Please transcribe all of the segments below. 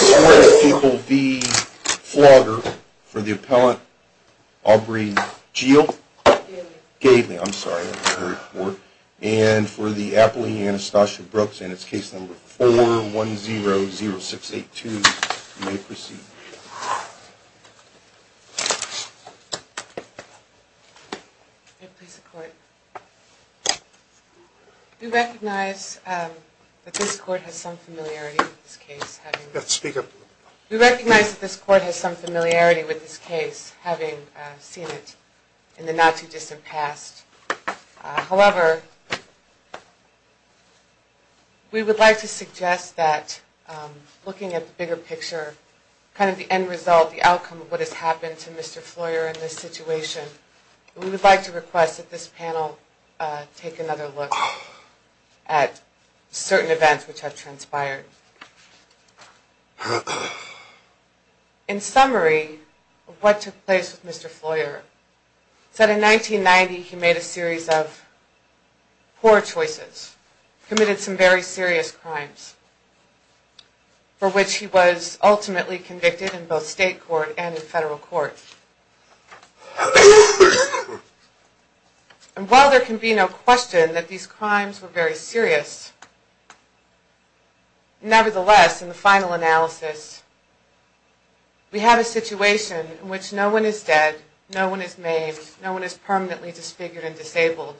v. Flaugher for the appellant, Aubrey Gale, and for the appellant, Anastasia Brooks, case number 4100682, you may proceed. We recognize that this court has some familiarity with this case, having seen it in the not-too-distant past. However, we would like to suggest that looking at the bigger picture, kind of the end result, the outcome of what has happened to Mr. Flaugher in this situation, we would like to request that this panel take another look at certain events which have transpired. In summary, what took place with Mr. Flaugher is that in 1990 he made a series of poor choices, committed some very serious crimes, for which he was ultimately convicted in both state court and in federal court. While there can be no question that these crimes were very serious, nevertheless, in the final analysis, we have a situation in which no one is dead, no one is maimed, no one is permanently disfigured and disabled,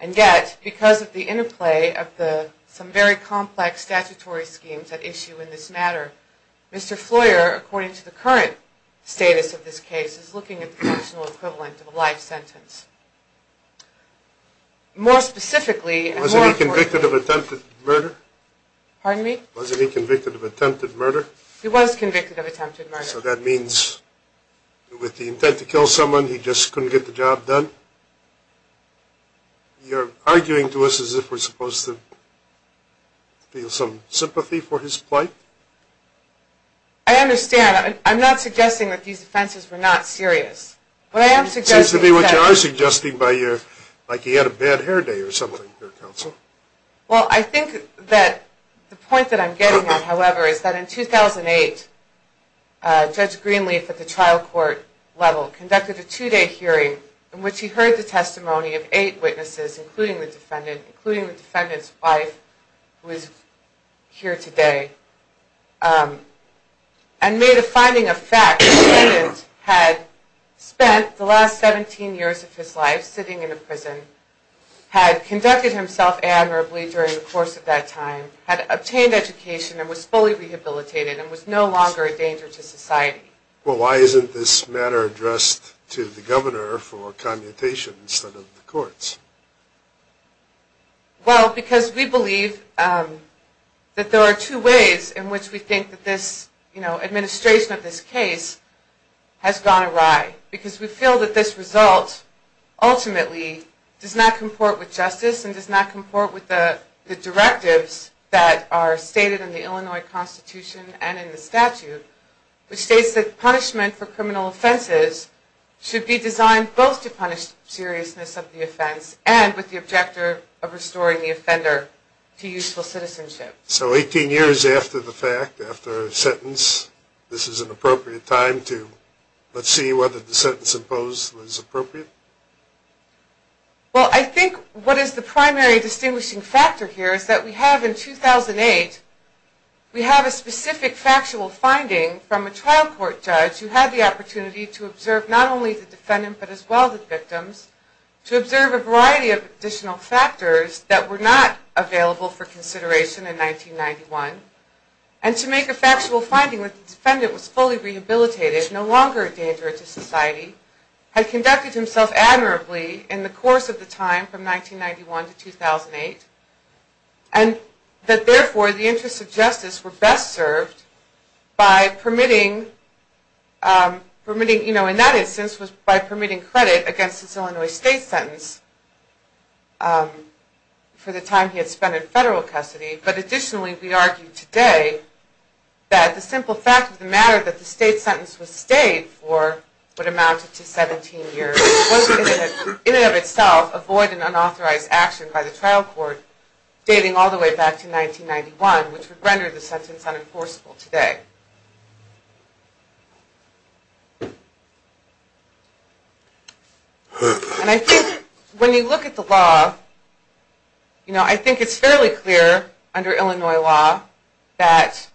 and yet, because of the interplay of some very complex statutory schemes at issue in this matter, Mr. Flaugher, according to the current status of this case, is looking at the functional equivalent of a life sentence. More specifically... Wasn't he convicted of attempted murder? Pardon me? Wasn't he convicted of attempted murder? He was convicted of attempted murder. So that means with the intent to kill someone, he just couldn't get the job done? You're arguing to us as if we're supposed to feel some sympathy for his plight? I understand. I'm not suggesting that these offenses were not serious. It seems to me what you are suggesting is that he had a bad hair day or something, your counsel. Well, I think that the point that I'm getting at, however, is that in 2008, Judge Greenleaf at the trial court level conducted a two-day hearing in which he heard the testimony of eight witnesses, including the defendant, including the defendant's wife, who is here today, and made a finding of fact that the defendant had spent the last 17 years of his life sitting in a prison, had conducted himself admirably during the course of that time, had obtained education and was fully rehabilitated and was no longer a danger to society. Well, why isn't this matter addressed to the governor for commutation instead of the courts? Well, because we believe that there are two ways in which we think that this administration of this case has gone awry, because we feel that this result ultimately does not comport with justice and does not comport with the directives that are stated in the Illinois Constitution and in the statute, which states that punishment for criminal offenses should be designed both to punish the seriousness of the offense and with the objective of restoring the offender to useful citizenship. So 18 years after the fact, after a sentence, this is an appropriate time to let's see whether the sentence imposed is appropriate? Well, I think what is the primary distinguishing factor here is that we have in 2008, we have a specific factual finding from a trial court judge who had the opportunity to observe not only the defendant, but as well the victims, to observe a variety of additional factors that were not available for consideration in 1991 and to make a factual finding that the defendant was fully rehabilitated, no longer a danger to society, had conducted himself admirably in the course of the time from 1991 to 2008 and that therefore the interests of justice were best served by permitting, in that instance was by permitting credit against his Illinois state sentence for the time he had spent in federal custody, but additionally we argue today that the simple fact of the matter that the state sentence was stayed for what amounted to 17 years was in and of itself a void and unauthorized action by the trial court dating all the way back to 1991, which would render the sentence unenforceable today. And I think when you look at the law, I think it's fairly clear under Illinois law that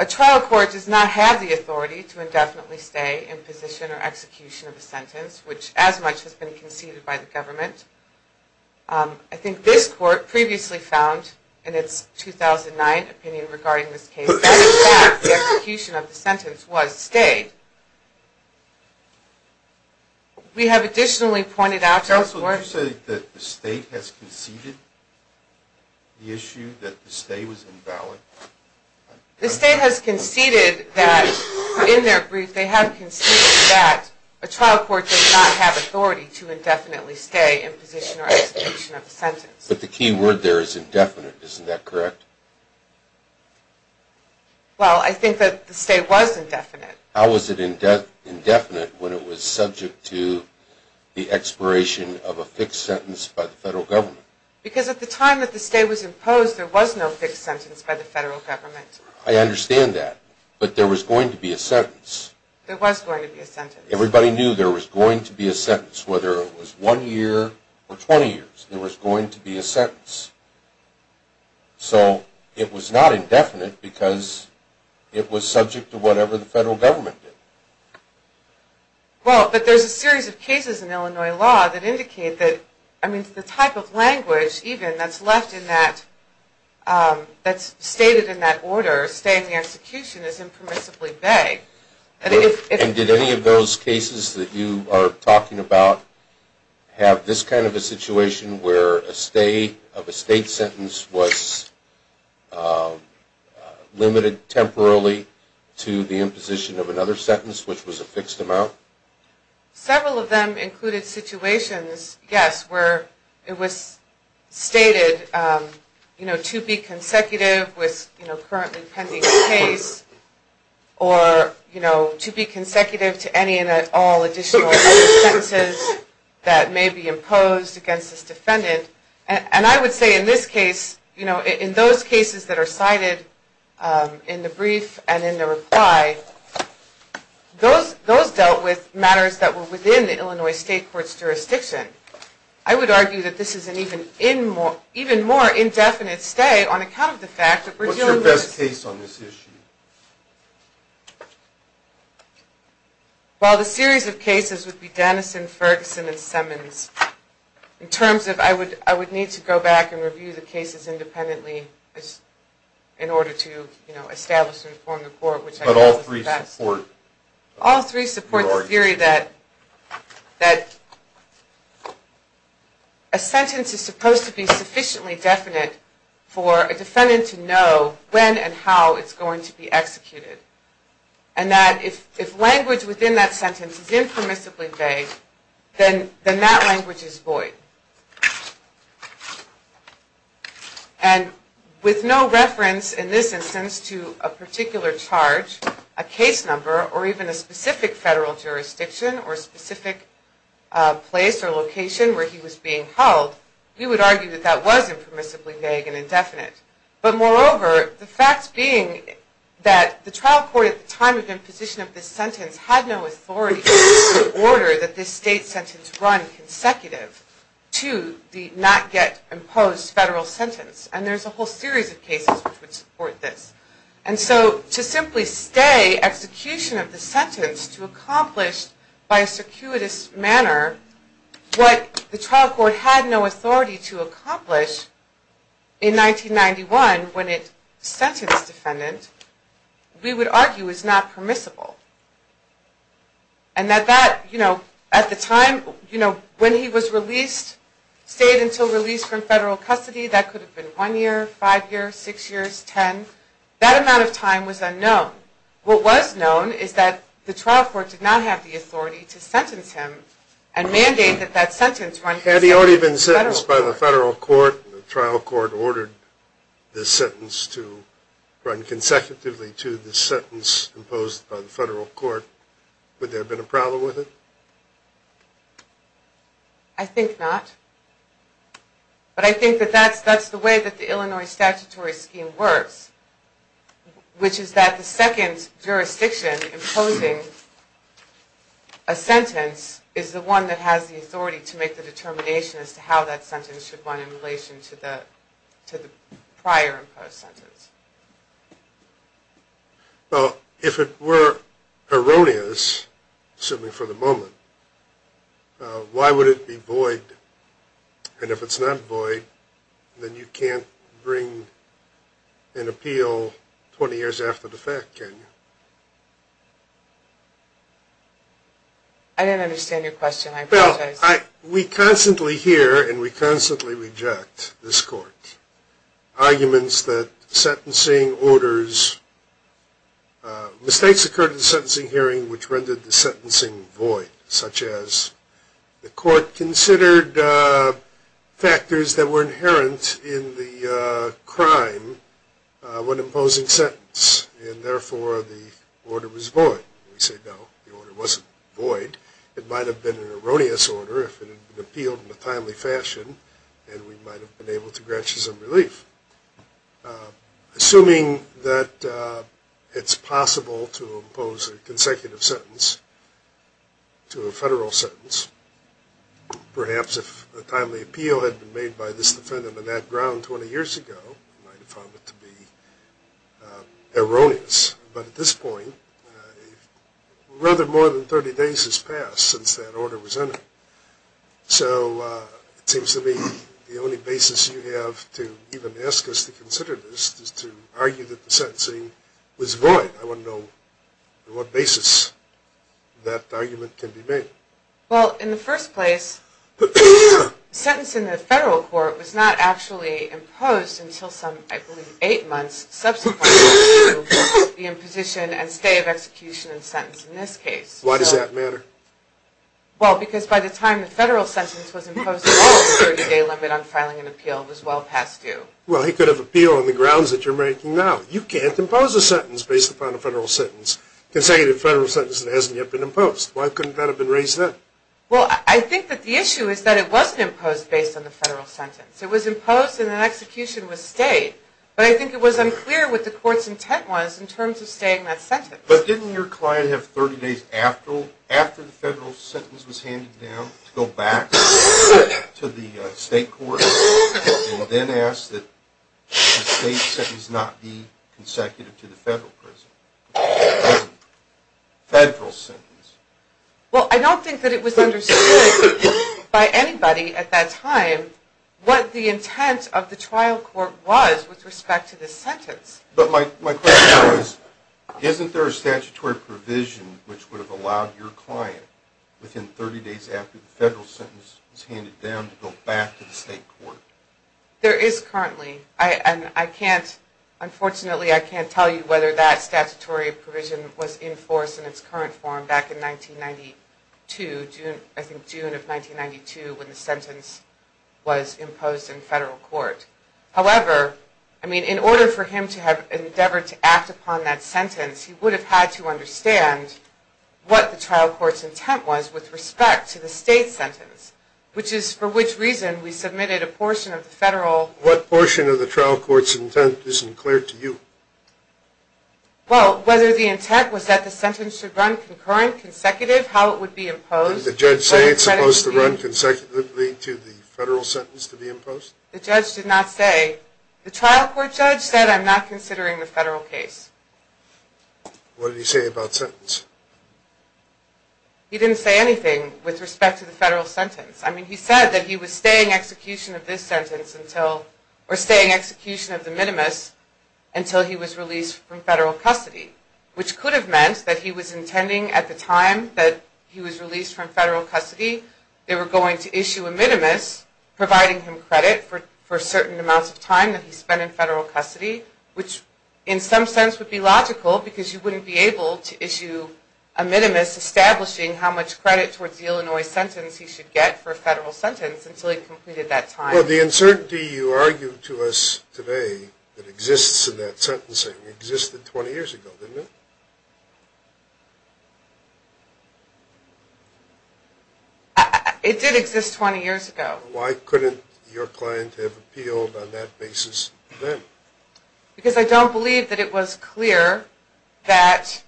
a trial court does not have the authority to indefinitely stay in position or execution of a sentence, which as much has been conceded by the government. I think this court previously found in its 2009 opinion regarding this case that in fact the execution of the sentence was stayed. We have additionally pointed out to the court... Counsel, did you say that the state has conceded the issue that the stay was invalid? The state has conceded that in their brief they have conceded that a trial court does not have authority to indefinitely stay in position or execution of a sentence. But the key word there is indefinite, isn't that correct? Well, I think that the state was indefinite. How was it indefinite when it was subject to the expiration of a fixed sentence by the federal government? Because at the time that the stay was imposed, there was no fixed sentence by the federal government. I understand that, but there was going to be a sentence. There was going to be a sentence. Everybody knew there was going to be a sentence, whether it was one year or 20 years, there was going to be a sentence. So it was not indefinite because it was subject to whatever the federal government did. Well, but there's a series of cases in Illinois law that indicate that, I mean, the type of language even that's left in that... that's stated in that order, stay in the execution, is impermissibly vague. And did any of those cases that you are talking about have this kind of a situation where a stay of a state sentence was limited temporarily to the imposition of another sentence, which was a fixed amount? Several of them included situations, yes, where it was stated, you know, to be consecutive with, you know, currently pending a case or, you know, to be consecutive to any and all additional sentences that may be imposed against this defendant. And I would say in this case, you know, in those cases that are cited in the brief and in the reply, those dealt with matters that were within the Illinois state court's jurisdiction. I would argue that this is an even more indefinite stay on account of the fact that we're dealing with... What's your best case on this issue? Well, the series of cases would be Dennison, Ferguson, and Simmons. In terms of, I would need to go back and review the cases independently in order to, you know, establish and inform the court, which I guess is best. But all three support your argument. And that if language within that sentence is impermissibly vague, then that language is void. And with no reference in this instance to a particular charge, a case number, or even a specific federal jurisdiction, or specific place or location where he was being held, we would argue that that was impermissibly vague and indefinite. But moreover, the fact being that the trial court at the time of imposition of this sentence had no authority to order that this state sentence run consecutive to the not yet imposed federal sentence. And there's a whole series of cases which would support this. And so to simply stay execution of the sentence to accomplish by a circuitous manner what the trial court had no authority to accomplish in 1991 when it sentenced defendant, we would argue is not permissible. And that that, you know, at the time, you know, when he was released, stayed until release from federal custody, that could have been one year, five years, six years, ten, that amount of time was unknown. What was known is that the trial court did not have the authority to sentence him and mandate that that sentence run consecutively to the not yet imposed federal sentence. Had he already been sentenced by the federal court and the trial court ordered this sentence to run consecutively to the sentence imposed by the federal court, would there have been a problem with it? I think not. But I think that that's the way that the Illinois statutory scheme works, which is that the second jurisdiction imposing a sentence is the one that has the authority to make the determination as to how that sentence should run in relation to the prior imposed sentence. Well, if it were erroneous, certainly for the moment, why would it be void? And if it's not void, then you can't bring an appeal 20 years after the fact, can you? I didn't understand your question. I apologize. We constantly hear and we constantly reject this court's arguments that sentencing orders, mistakes occurred in the sentencing hearing, which rendered the sentencing void, such as the court considered factors that were inherent in the crime when imposing sentence, and therefore the order was void. We say, no, the order wasn't void. It might have been an erroneous order if it had been appealed in a timely fashion and we might have been able to grant you some relief. Assuming that it's possible to impose a consecutive sentence to a federal sentence, perhaps if a timely appeal had been made by this defendant on that ground 20 years ago, it might have found it to be erroneous. But at this point, rather more than 30 days has passed since that order was entered. So it seems to me the only basis you have to even ask us to consider this is to argue that the sentencing was void. I want to know on what basis that argument can be made. Well, in the first place, sentencing the federal court was not actually imposed until some, I believe, eight months subsequent to the imposition and stay of execution and sentence in this case. Why does that matter? Well, because by the time the federal sentence was imposed, the 30-day limit on filing an appeal was well past due. Well, he could have appealed on the grounds that you're making now. You can't impose a sentence based upon a federal sentence, a consecutive federal sentence that hasn't yet been imposed. Why couldn't that have been raised then? Well, I think that the issue is that it wasn't imposed based on the federal sentence. It was imposed and then execution was stayed. But I think it was unclear what the court's intent was in terms of staying that sentence. But didn't your client have 30 days after the federal sentence was handed down to go back to the state court and then ask that the state sentence not be consecutive to the federal sentence? Well, I don't think that it was understood by anybody at that time what the intent of the trial court was with respect to the sentence. But my question is, isn't there a statutory provision which would have allowed your client within 30 days after the federal sentence was handed down to go back to the state court? There is currently. Unfortunately, I can't tell you whether that statutory provision was enforced in its current form back in 1992, I think June of 1992, when the sentence was imposed in federal court. However, I mean, in order for him to have endeavored to act upon that sentence, he would have had to understand what the trial court's intent was with respect to the state sentence, which is for which reason we submitted a portion of the federal... What portion of the trial court's intent is unclear to you? Well, whether the intent was that the sentence should run concurrent, consecutive, how it would be imposed... Did the judge say it's supposed to run consecutively to the federal sentence to be imposed? The judge did not say. The trial court judge said, I'm not considering the federal case. What did he say about sentence? He didn't say anything with respect to the federal sentence. I mean, he said that he was staying execution of this sentence until... Well, the uncertainty you argue to us today that exists in that sentencing existed 20 years ago, didn't it? It did exist 20 years ago. Why couldn't your client have appealed on that basis then? Because I don't believe that it was clear that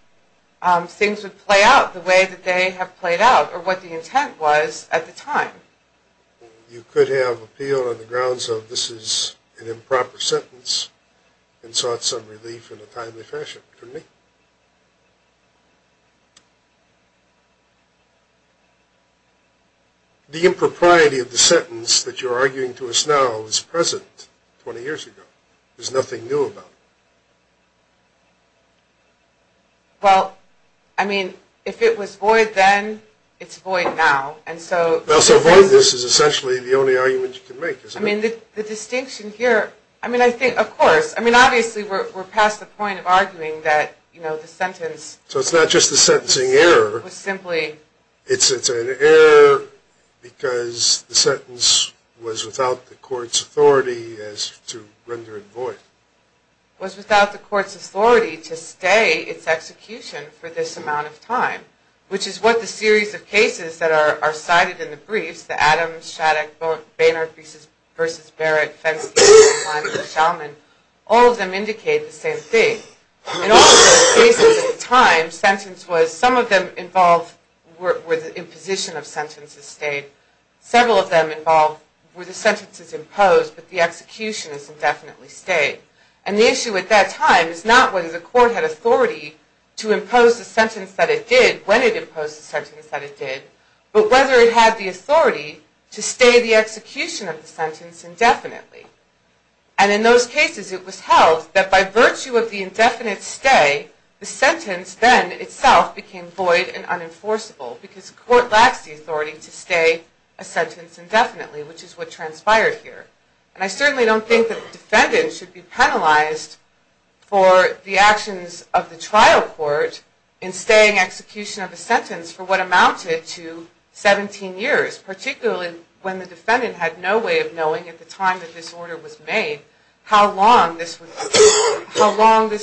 things would play out the way that they have played out or what the intent was at the time. You could have appealed on the grounds of this is an improper sentence and sought some relief in a timely fashion, couldn't you? The impropriety of the sentence that you're arguing to us now is present 20 years ago. There's nothing new about it. Well, I mean, if it was void then, it's void now. Well, so voidness is essentially the only argument you can make, isn't it? I mean, the distinction here, I mean, I think, of course, I mean, obviously, we're past the point of arguing that, you know, the sentence... So it's not just the sentencing error. It's an error because the sentence was without the court's authority as to render it void. Was without the court's authority to stay its execution for this amount of time, which is what the series of cases that are cited in the briefs, the Adams, Shattuck, Boehner v. Barrett, Fenske, Klein, and Shalman, all of them indicate the same thing. In all of those cases at the time, sentence was, some of them involved where the imposition of sentences stayed. Several of them involved where the sentence is imposed, but the execution is indefinitely stayed. And the issue at that time is not whether the court had authority to impose the sentence that it did when it imposed the sentence that it did, but whether it had the authority to stay the execution of the sentence indefinitely. And in those cases, it was held that by virtue of the indefinite stay, the sentence then itself became void and unenforceable because the court lacks the authority to stay a sentence indefinitely, which is what transpired here. And I certainly don't think that the defendant should be penalized for the actions of the trial court in staying execution of a sentence for what amounted to 17 years, particularly when the defendant had no way of knowing at the time that this order was made how long this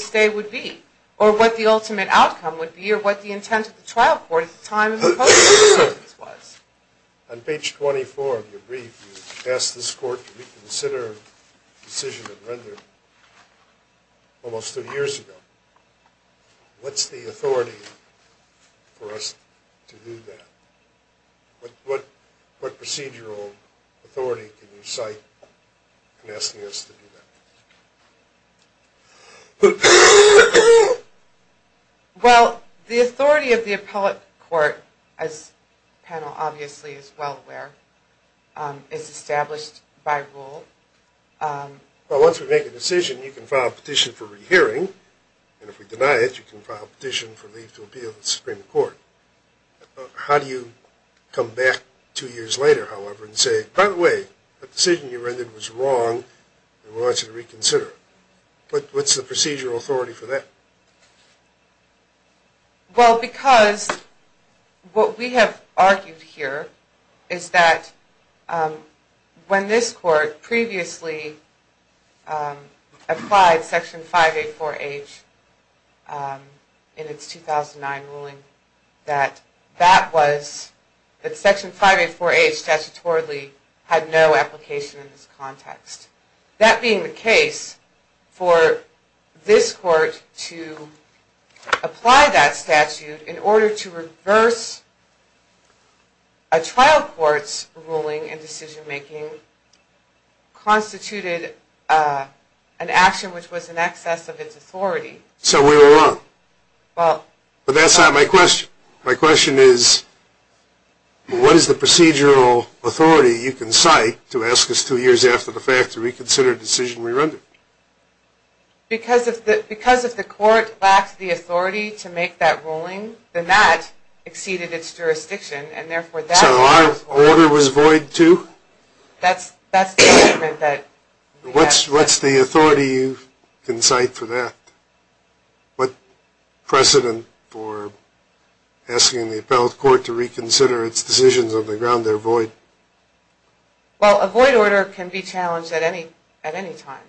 stay would be, or what the ultimate outcome would be, or what the intent of the trial court at the time of imposing the sentence was. On page 24 of your brief, you ask this court to reconsider a decision that rendered almost 30 years ago. What's the authority for us to do that? What procedural authority can you cite in asking us to do that? Well, the authority of the appellate court, as the panel obviously is well aware, is established by rule. Well, once we make a decision, you can file a petition for rehearing, and if we deny it, you can file a petition for leave to appeal to the Supreme Court. How do you come back two years later, however, and say, by the way, that decision you rendered was wrong, and we want you to reconsider it? What's the procedural authority for that? Well, because what we have argued here is that when this court previously applied Section 584H in its 2009 ruling, that Section 584H statutorily had no application in this context. That being the case, for this court to apply that statute in order to reverse a trial court's ruling and decision-making, constituted an action which was in excess of its authority. So we were wrong. But that's not my question. My question is, what is the procedural authority you can cite to ask us two years after the fact to reconsider a decision we rendered? Because if the court lacked the authority to make that ruling, then that exceeded its jurisdiction, and therefore that ruling was wrong. What's the authority you can cite for that? What precedent for asking the appellate court to reconsider its decisions on the ground they're void? Well, a void order can be challenged at any time.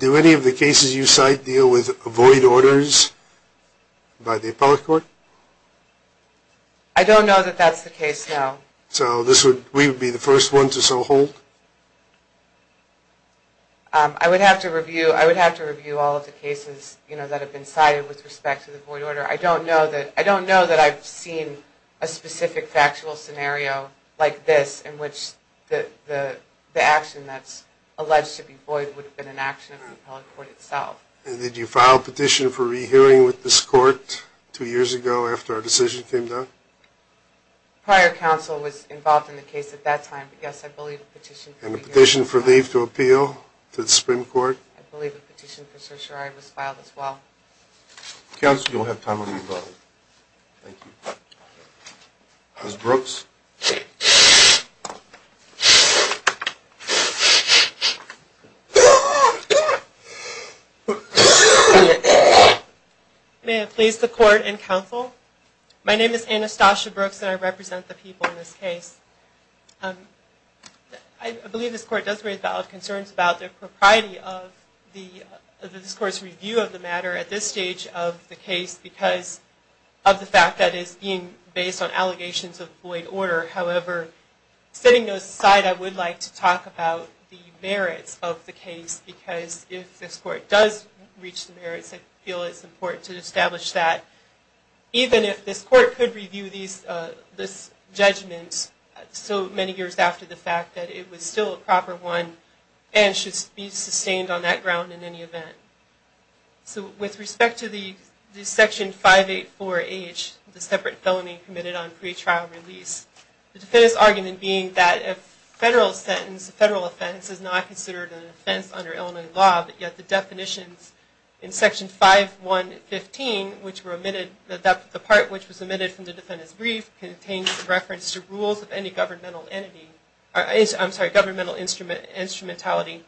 Do any of the cases you cite deal with void orders by the appellate court? I don't know that that's the case, no. I would have to review all of the cases that have been cited with respect to the void order. I don't know that I've seen a specific factual scenario like this in which the action that's alleged to be void would have been an action of the appellate court itself. And did you file a petition for re-hearing with this court two years ago after our decision came down? Prior counsel was involved in the case at that time, but yes, I believe a petition for re-hearing was filed. And a petition for leave to appeal to the Supreme Court? I believe a petition for certiorari was filed as well. Counsel, you don't have time on your phone. Thank you. Ms. Brooks? May it please the court and counsel, my name is Anastasia Brooks and I represent the people in this case. I believe this court does raise valid concerns about the propriety of this court's review of the matter at this stage. Because of the fact that it's being based on allegations of void order, however, setting those aside, I would like to talk about the merits of the case. Because if this court does reach the merits, I feel it's important to establish that. Even if this court could review this judgment so many years after the fact that it was still a proper one and should be sustained on that ground in any event. With respect to the Section 584H, the separate felony committed on pre-trial release. The defendant's argument being that a federal sentence, a federal offense, is not considered an offense under Illinois law, but yet the definitions in Section 5115, which were omitted, the part which was omitted from the defendant's brief, contains reference to rules of any governmental instrumentality.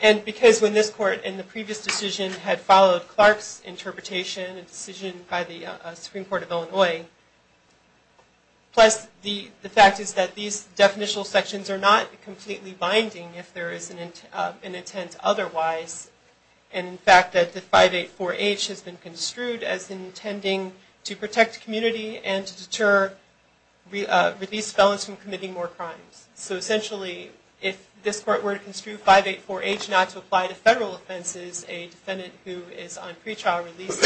And because when this court, in the previous decision, had followed Clark's interpretation, a decision by the Supreme Court of Illinois, plus the fact is that these definitional sections are not completely binding if there is an intent otherwise, and in fact that the 584H has been construed as intending to protect community and to deter released felons from committing more crimes. So essentially, if this court were to construe 584H not to apply to federal offenses, a defendant who is on pre-trial release,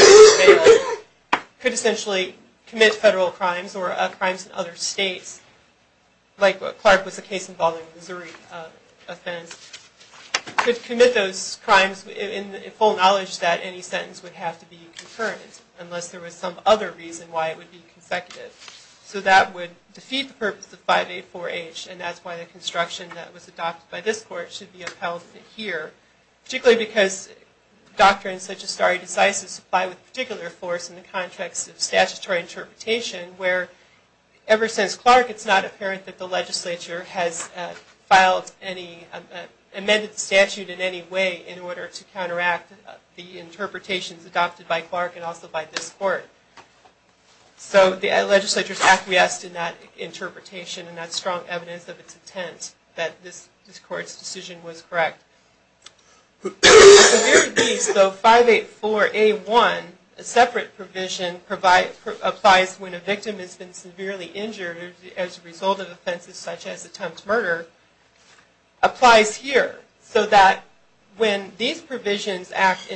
could essentially commit federal crimes or crimes in other states, like what Clark was a case involving Missouri offense, could commit those crimes in full knowledge that any sentence would have to be concurrent, unless there was some other reason why it would be consecutive. So that would defeat the purpose of 584H, and that's why the construction that was adopted by this court should be upheld here, particularly because doctrines such as stare decisis apply with particular force in the context of statutory interpretation, where ever since Clark, it's not apparent that the legislature has filed any, amended the statute in any way in order to counteract the interpretations adopted by Clark and also by this court. So the legislature is acquiesced in that interpretation and that strong evidence of its intent that this court's decision was correct. So 584A1, a separate provision, applies when a victim has been severely injured as a result of offenses such as attempted murder, applies here, so that when these provisions act,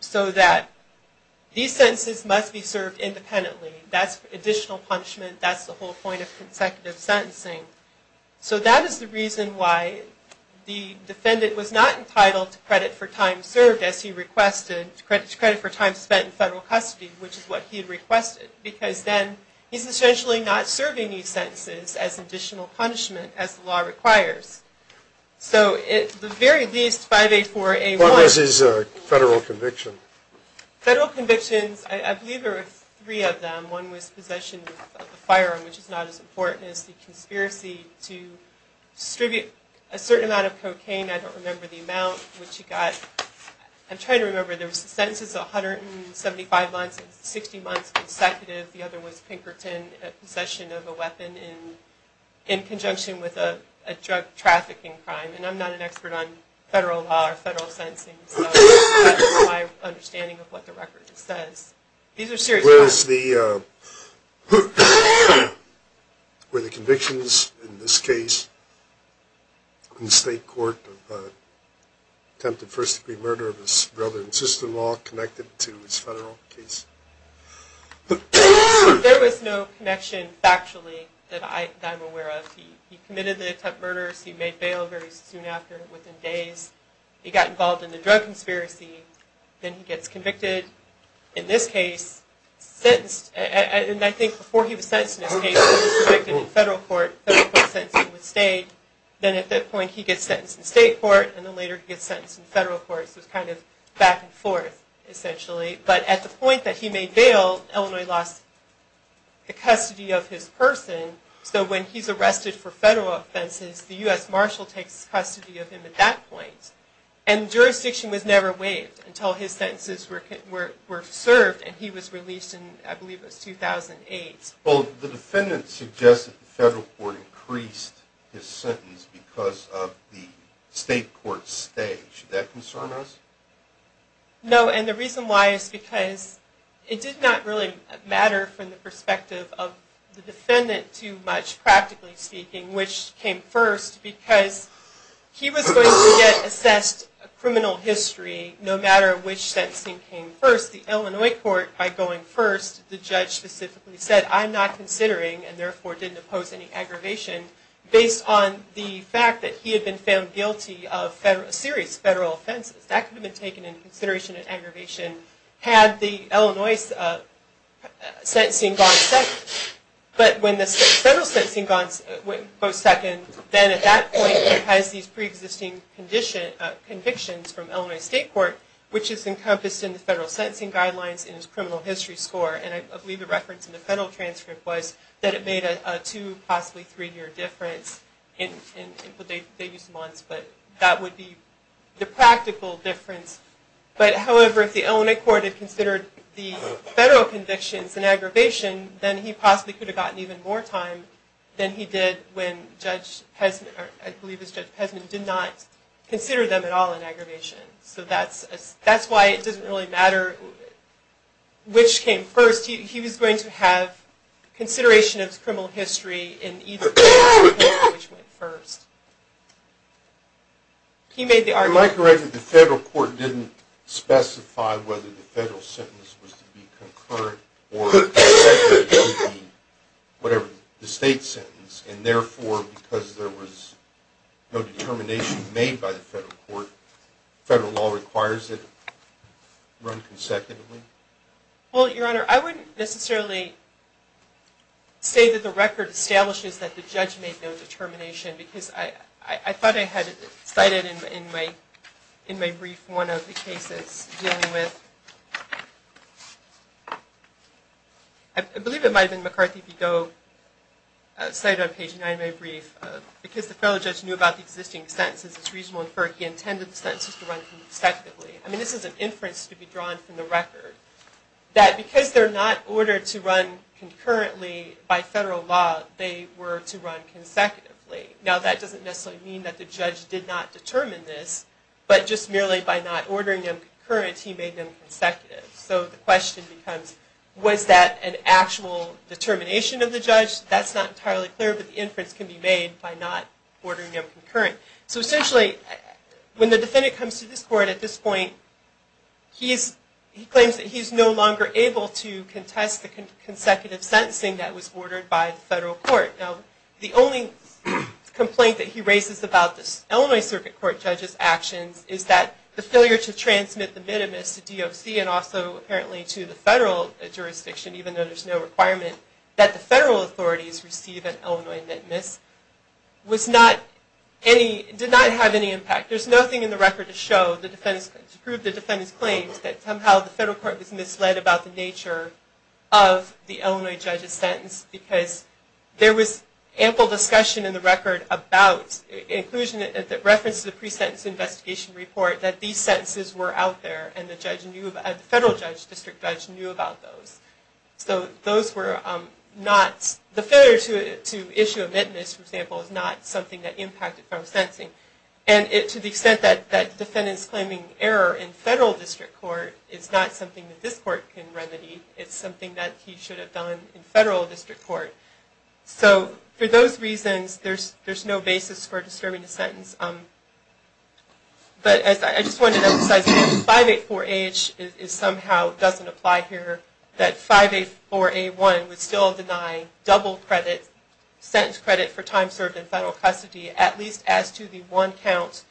so that these sentences must be scored, the defendant is served independently, that's additional punishment, that's the whole point of consecutive sentencing. So that is the reason why the defendant was not entitled to credit for time served as he requested, to credit for time spent in federal custody, which is what he requested, because then he's essentially not serving these sentences as additional punishment as the law requires. So at the very least, 584A1... What was his federal conviction? Federal convictions, I believe there were three of them. One was possession of a firearm, which is not as important as the conspiracy to distribute a certain amount of cocaine, I don't remember the amount, which he got. I'm trying to remember, there were sentences of 175 months and 60 months consecutive, the other was Pinkerton, possession of a weapon in conjunction with a drug trafficking crime, and I'm not an expert on federal law or federal sentencing, so that's my understanding of what the record says. These are serious crimes. Were the convictions in this case in the state court of attempted first degree murder of his brother and sister-in-law connected to his federal case? There was no connection factually that I'm aware of. He committed the attempted murders, he made bail very soon after, within days, he got involved in the drug conspiracy, then he gets convicted. In this case, sentenced, and I think before he was sentenced in this case, he was convicted in federal court, federal court sentencing with state, then at that point he gets sentenced in state court, and then later he gets sentenced in federal court, so it's kind of back and forth, essentially. But at the point that he made bail, Illinois lost the custody of his person, so when he's arrested for federal offenses, the U.S. Marshal takes custody of him at that point. And jurisdiction was never waived until his sentences were served, and he was released in, I believe it was 2008. Well, the defendant suggested the federal court increased his sentence because of the state court stage. Does that concern us? No, and the reason why is because it did not really matter from the perspective of the defendant too much, practically speaking, which came first, because he was going to get assessed criminal history no matter which sentencing came first. The Illinois court, by going first, the judge specifically said, I'm not considering, and therefore didn't oppose any aggravation, based on the fact that he had been found guilty of serious federal offenses. That could have been taken into consideration in aggravation had the Illinois sentencing gone second. But when the federal sentencing went second, then at that point he has these preexisting convictions from Illinois state court, which is encompassed in the federal sentencing guidelines and his criminal history score. And I believe the reference in the federal transcript was that it made a two, possibly three-year difference in what they used once, but that would be the practical difference. But however, if the Illinois court had considered the federal convictions in aggravation, then he possibly could have gotten even more time than he did when Judge Pesman, or I believe it was Judge Pesman, did not consider them at all in aggravation. So that's why it doesn't really matter which came first. He was going to have consideration of his criminal history in either case, which went first. He made the argument... Am I correct that the federal court didn't specify whether the federal sentence was to be concurrent or the state sentence, and therefore because there was no determination made by the federal court, the federal law requires it run consecutively? Well, Your Honor, I wouldn't necessarily say that the record establishes that the judge made no determination because I thought I had cited in my brief one of the cases dealing with... I believe it might have been McCarthy v. Goe, cited on page 9 of my brief, because the federal judge knew about the existing sentences, it's reasonable to infer he intended the sentences to run consecutively. I mean, this is an inference to be drawn from the record, that because they're not ordered to run concurrently by federal law, they were to run consecutively. Now, that doesn't necessarily mean that the judge did not determine this, but just merely by not ordering them concurrent, he made them consecutive. That's not entirely clear, but the inference can be made by not ordering them concurrent. So essentially, when the defendant comes to this court at this point, he claims that he's no longer able to contest the consecutive sentencing that was ordered by the federal court. Now, the only complaint that he raises about this Illinois Circuit Court judge's actions is that the failure to transmit the minimus to DOC and also apparently to the federal jurisdiction, even though there's no requirement, that the federal authorities receive an Illinois minimus, did not have any impact. There's nothing in the record to show, to prove the defendant's claims, that somehow the federal court was misled about the nature of the Illinois judge's sentence, because there was ample discussion in the record about, in reference to the pre-sentence investigation report, that these sentences were out there, and the federal district judge knew about those. So the failure to issue a minimus, for example, is not something that impacted federal sentencing. And to the extent that the defendant's claiming error in federal district court is not something that this court can remedy, it's something that he should have done in federal district court. So for those reasons, there's no basis for disturbing the sentence. But I just wanted to emphasize that 584-H somehow doesn't apply here. That 584-A1 would still deny double credit, sentence credit, for time served in federal custody, at least as to the one count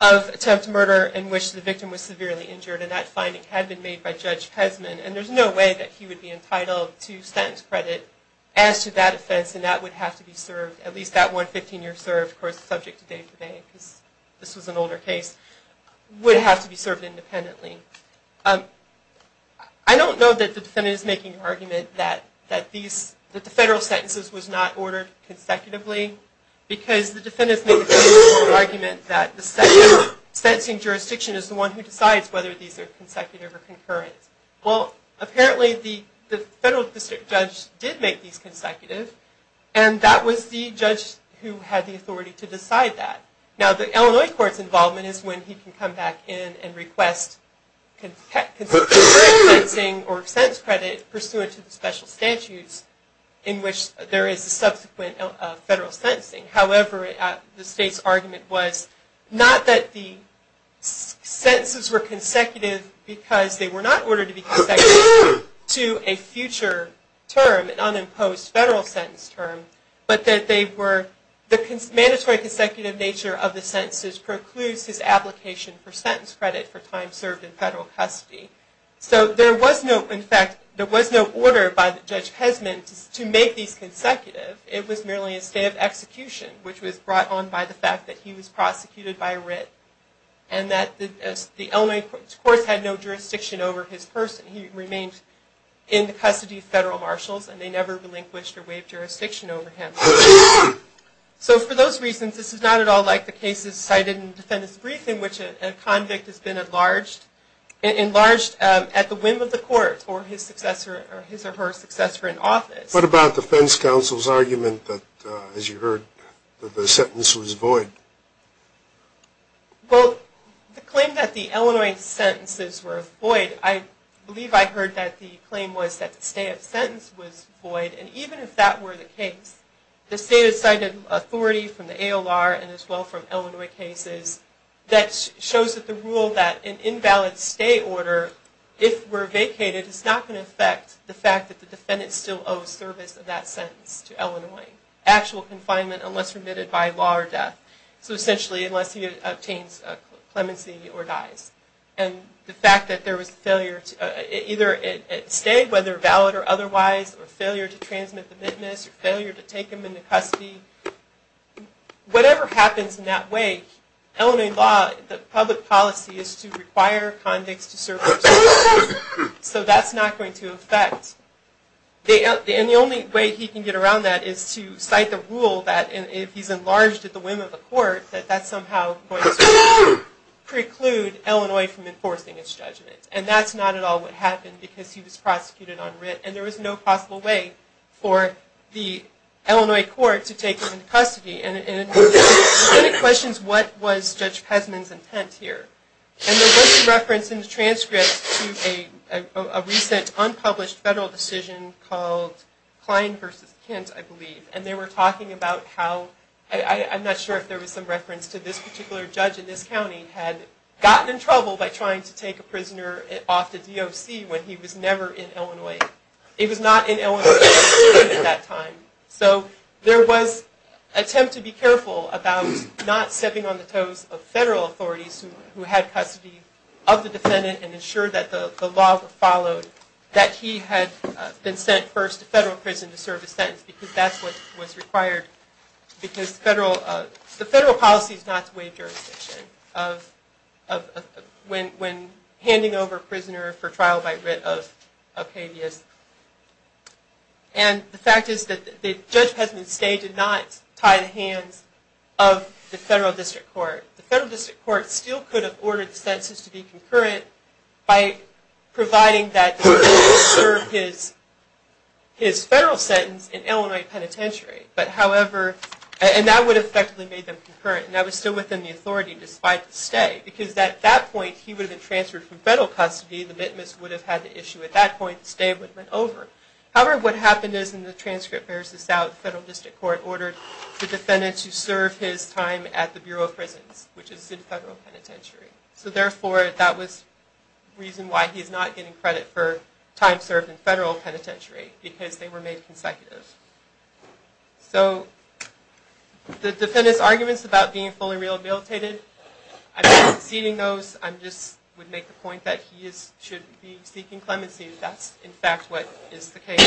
of attempt to murder in which the victim was severely injured. And that finding had been made by Judge Pesman. And there's no way that he would be entitled to sentence credit as to that offense, and that would have to be served, at least that one 15-year serve, of course, subject to day-to-day, because this was an older case, would have to be served independently. I don't know that the defendant is making the argument that the federal sentences was not ordered consecutively, because the defendant's making the argument that the sentencing jurisdiction is the one who decides whether these are consecutive or concurrent. Well, apparently the federal district judge did make these consecutive, and that was the judge who had the authority to decide that. Now, the Illinois court's involvement is when he can come back in and request consecutive sentencing or sentence credit pursuant to the special statutes in which there is a subsequent federal sentencing. However, the state's argument was not that the sentences were consecutive, because they were not ordered to be consecutive to a future term, an unimposed federal sentence term, but that the mandatory consecutive nature of the sentences precludes his application for sentence credit for time served in federal custody. So there was no, in fact, there was no order by Judge Pesman to make these consecutive. It was merely a state of execution, which was brought on by the fact that he was prosecuted by writ, and that the Illinois court had no jurisdiction over his person. He remained in the custody of federal marshals, and they never relinquished or waived jurisdiction over him. So for those reasons, this is not at all like the cases cited in the defendant's brief, in which a convict has been enlarged at the whim of the court or his or her successor in office. What about defense counsel's argument that, as you heard, that the sentence was void? Well, the claim that the Illinois sentences were void, I believe I heard that the claim was that the stay of sentence was void, and even if that were the case, the state had cited authority from the ALR and as well from Illinois cases that shows that the rule that an invalid stay order, if were vacated, it is not going to affect the fact that the defendant still owes service of that sentence to Illinois. Actual confinement unless remitted by law or death. So essentially, unless he obtains clemency or dies. And the fact that there was failure to either stay, whether valid or otherwise, or failure to transmit the witness, or failure to take him into custody, whatever happens in that way, Illinois law, the public policy, is to require convicts to serve their sentences. So that's not going to affect. And the only way he can get around that is to cite the rule that if he's enlarged at the whim of the court, that that's somehow going to preclude Illinois from enforcing its judgment. And that's not at all what happened because he was prosecuted on writ, and there was no possible way for the Illinois court to take him into custody. And it questions what was Judge Pesman's intent here. And there was some reference in the transcripts to a recent unpublished federal decision called Klein v. Kint, I believe. And they were talking about how, I'm not sure if there was some reference to this particular judge in this county, had gotten in trouble by trying to take a prisoner off the DOC when he was never in Illinois. He was not in Illinois at that time. So there was an attempt to be careful about not stepping on the toes of federal authorities who had custody of the defendant and ensured that the law followed, that he had been sent first to federal prison to serve his sentence because that's what was required. Because the federal policy is not to waive jurisdiction when handing over a prisoner for trial by writ of habeas. And the fact is that Judge Pesman's stay did not tie the hands of the federal district court. The federal district court still could have ordered the sentences to be concurrent by providing that he serve his federal sentence in Illinois Penitentiary. But however, and that would have effectively made them concurrent, and that was still within the authority despite the stay. Because at that point he would have been transferred from federal custody, the witness would have had the issue at that point, the stay would have been over. However, what happened is in the transcript there's this out, the federal district court ordered the defendant to serve his time at the Bureau of Prisons, which is in federal penitentiary. So therefore, that was the reason why he's not getting credit for time served in federal penitentiary, because they were made consecutive. So the defendant's arguments about being fully rehabilitated, I'm not exceeding those, I just would make the point that he should be seeking clemency. That's in fact what is the case.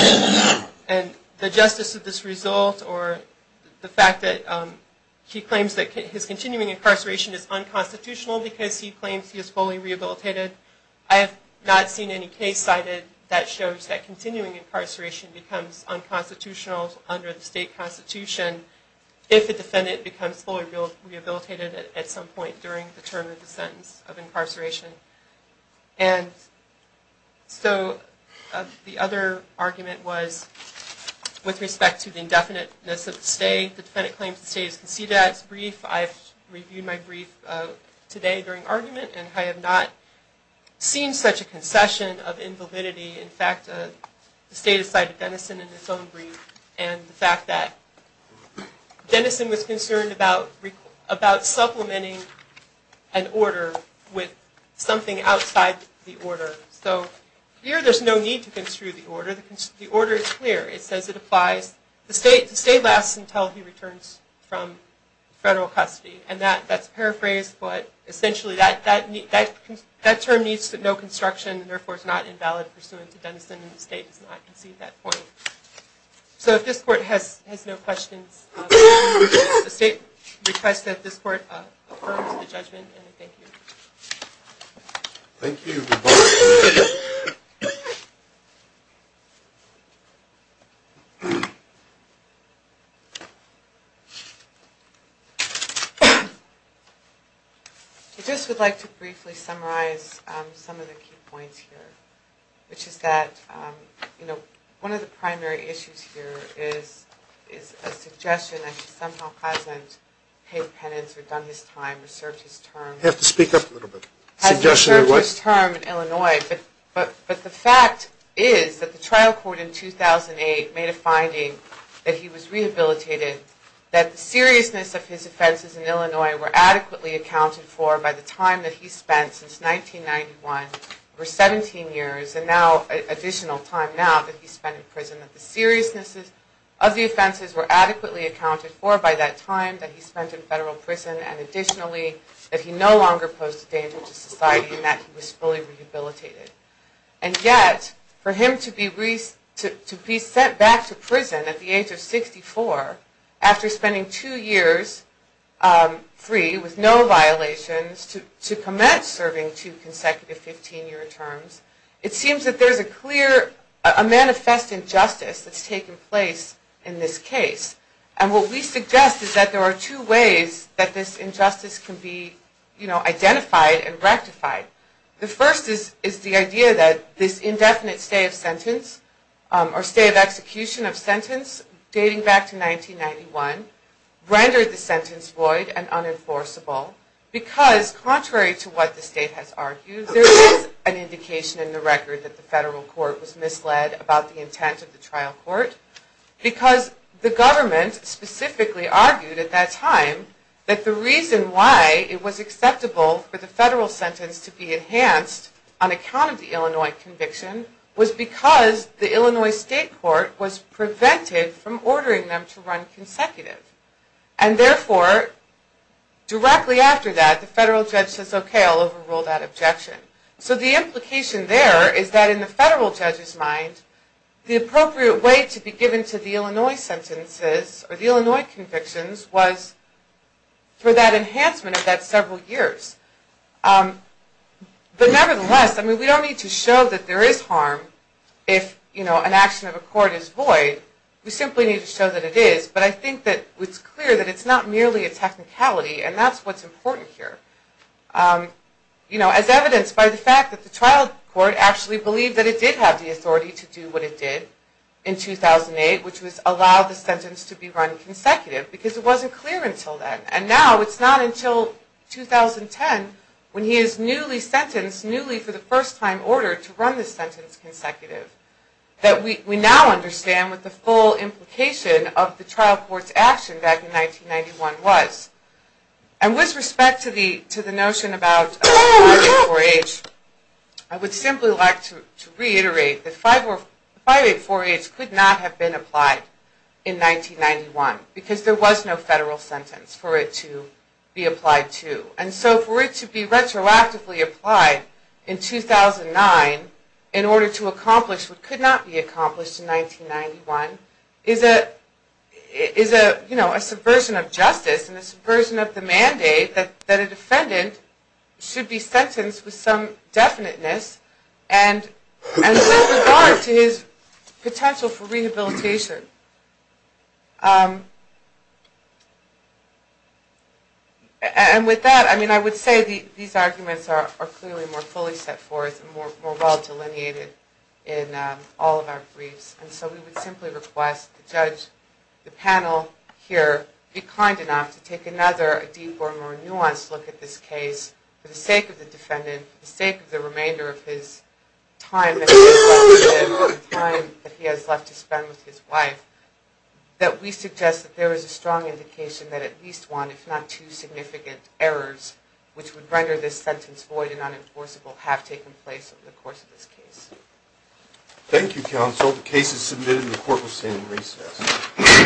And the justice of this result, or the fact that he claims that his continuing incarceration is unconstitutional because he claims he is fully rehabilitated, I have not seen any case cited that shows that continuing incarceration becomes unconstitutional under the state constitution if the defendant becomes fully rehabilitated at some point during the term of the sentence of incarceration. And so the other argument was with respect to the indefiniteness of the stay, the defendant claims the stay is conceded at. It's a brief, I've reviewed my brief today during argument, and I have not seen such a concession of invalidity. In fact, the state has cited Denison in its own brief, and the fact that Denison was concerned about supplementing an order with something outside the order. So here there's no need to construe the order. The order is clear. It says it applies, the stay lasts until he returns from federal custody. And that's paraphrased, but essentially that term needs no construction, and therefore is not invalid pursuant to Denison, and the state does not concede that point. So if this court has no questions, the state requests that this court affirms the judgment, and I thank you. Thank you. I just would like to briefly summarize some of the key points here, which is that one of the primary issues here is a suggestion that he somehow hasn't paid penance or done his time or served his term. You have to speak up a little bit. Hasn't served his term in Illinois, but the fact is that the trial court in 2008 made a finding that he was rehabilitated, that the seriousness of his offenses in Illinois were adequately accounted for by the time that he spent since 1991, over 17 years, and now additional time now that he spent in prison, that the seriousness of the offenses were adequately accounted for by that time that he spent in federal prison, and additionally, that he no longer posed a danger to society, and that he was fully rehabilitated. And yet, for him to be sent back to prison at the age of 64, after spending two years free with no violations, to commence serving two consecutive 15-year terms, it seems that there's a clear, a manifest injustice that's taken place in this case. And what we suggest is that there are two ways that this injustice can be, you know, identified and rectified. The first is the idea that this indefinite stay of sentence, or stay of execution of sentence, dating back to 1991, rendered the sentence void and unenforceable, because contrary to what the state has argued, there is an indication in the record that the federal court was misled about the intent of the trial court, because the government specifically argued at that time that the reason why it was acceptable for the federal sentence to be enhanced on account of the Illinois conviction was because the Illinois state court was prevented from ordering them to run consecutive. And therefore, directly after that, the federal judge says, okay, I'll overrule that objection. So the implication there is that in the federal judge's mind, the appropriate way to be given to the Illinois sentences, or the Illinois convictions, was for that enhancement of that several years. But nevertheless, I mean, we don't need to show that there is harm if, you know, an action of a court is void. We simply need to show that it is. But I think that it's clear that it's not merely a technicality, and that's what's important here. You know, as evidenced by the fact that the trial court actually believed that it did have the authority to do what it did in 2008, which was allow the sentence to be run consecutive, because it wasn't clear until then. And now it's not until 2010, when he is newly sentenced, newly for the first time ordered to run the sentence consecutive, that we now understand what the full implication of the trial court's action back in 1991 was. And with respect to the notion about age, I would simply like to reiterate that 584H could not have been applied in 1991, because there was no federal sentence for it to be applied to. And so for it to be retroactively applied in 2009, in order to accomplish what could not be accomplished in 1991, is a subversion of justice and a subversion of the mandate that a defendant should be sentenced with some definiteness and with regard to his potential for rehabilitation. And with that, I would say these arguments are clearly more fully set forth and more well delineated in all of our briefs. And so we would simply request the panel here be kind enough to take another, a deeper, more nuanced look at this case, for the sake of the defendant, for the sake of the remainder of his time that he has left to spend with his wife, that we suggest that there is a strong indication that at least one, if not two, significant errors which would render this sentence void and unenforceable have taken place over the course of this case. Thank you, counsel. The case is submitted and the court will stand in recess.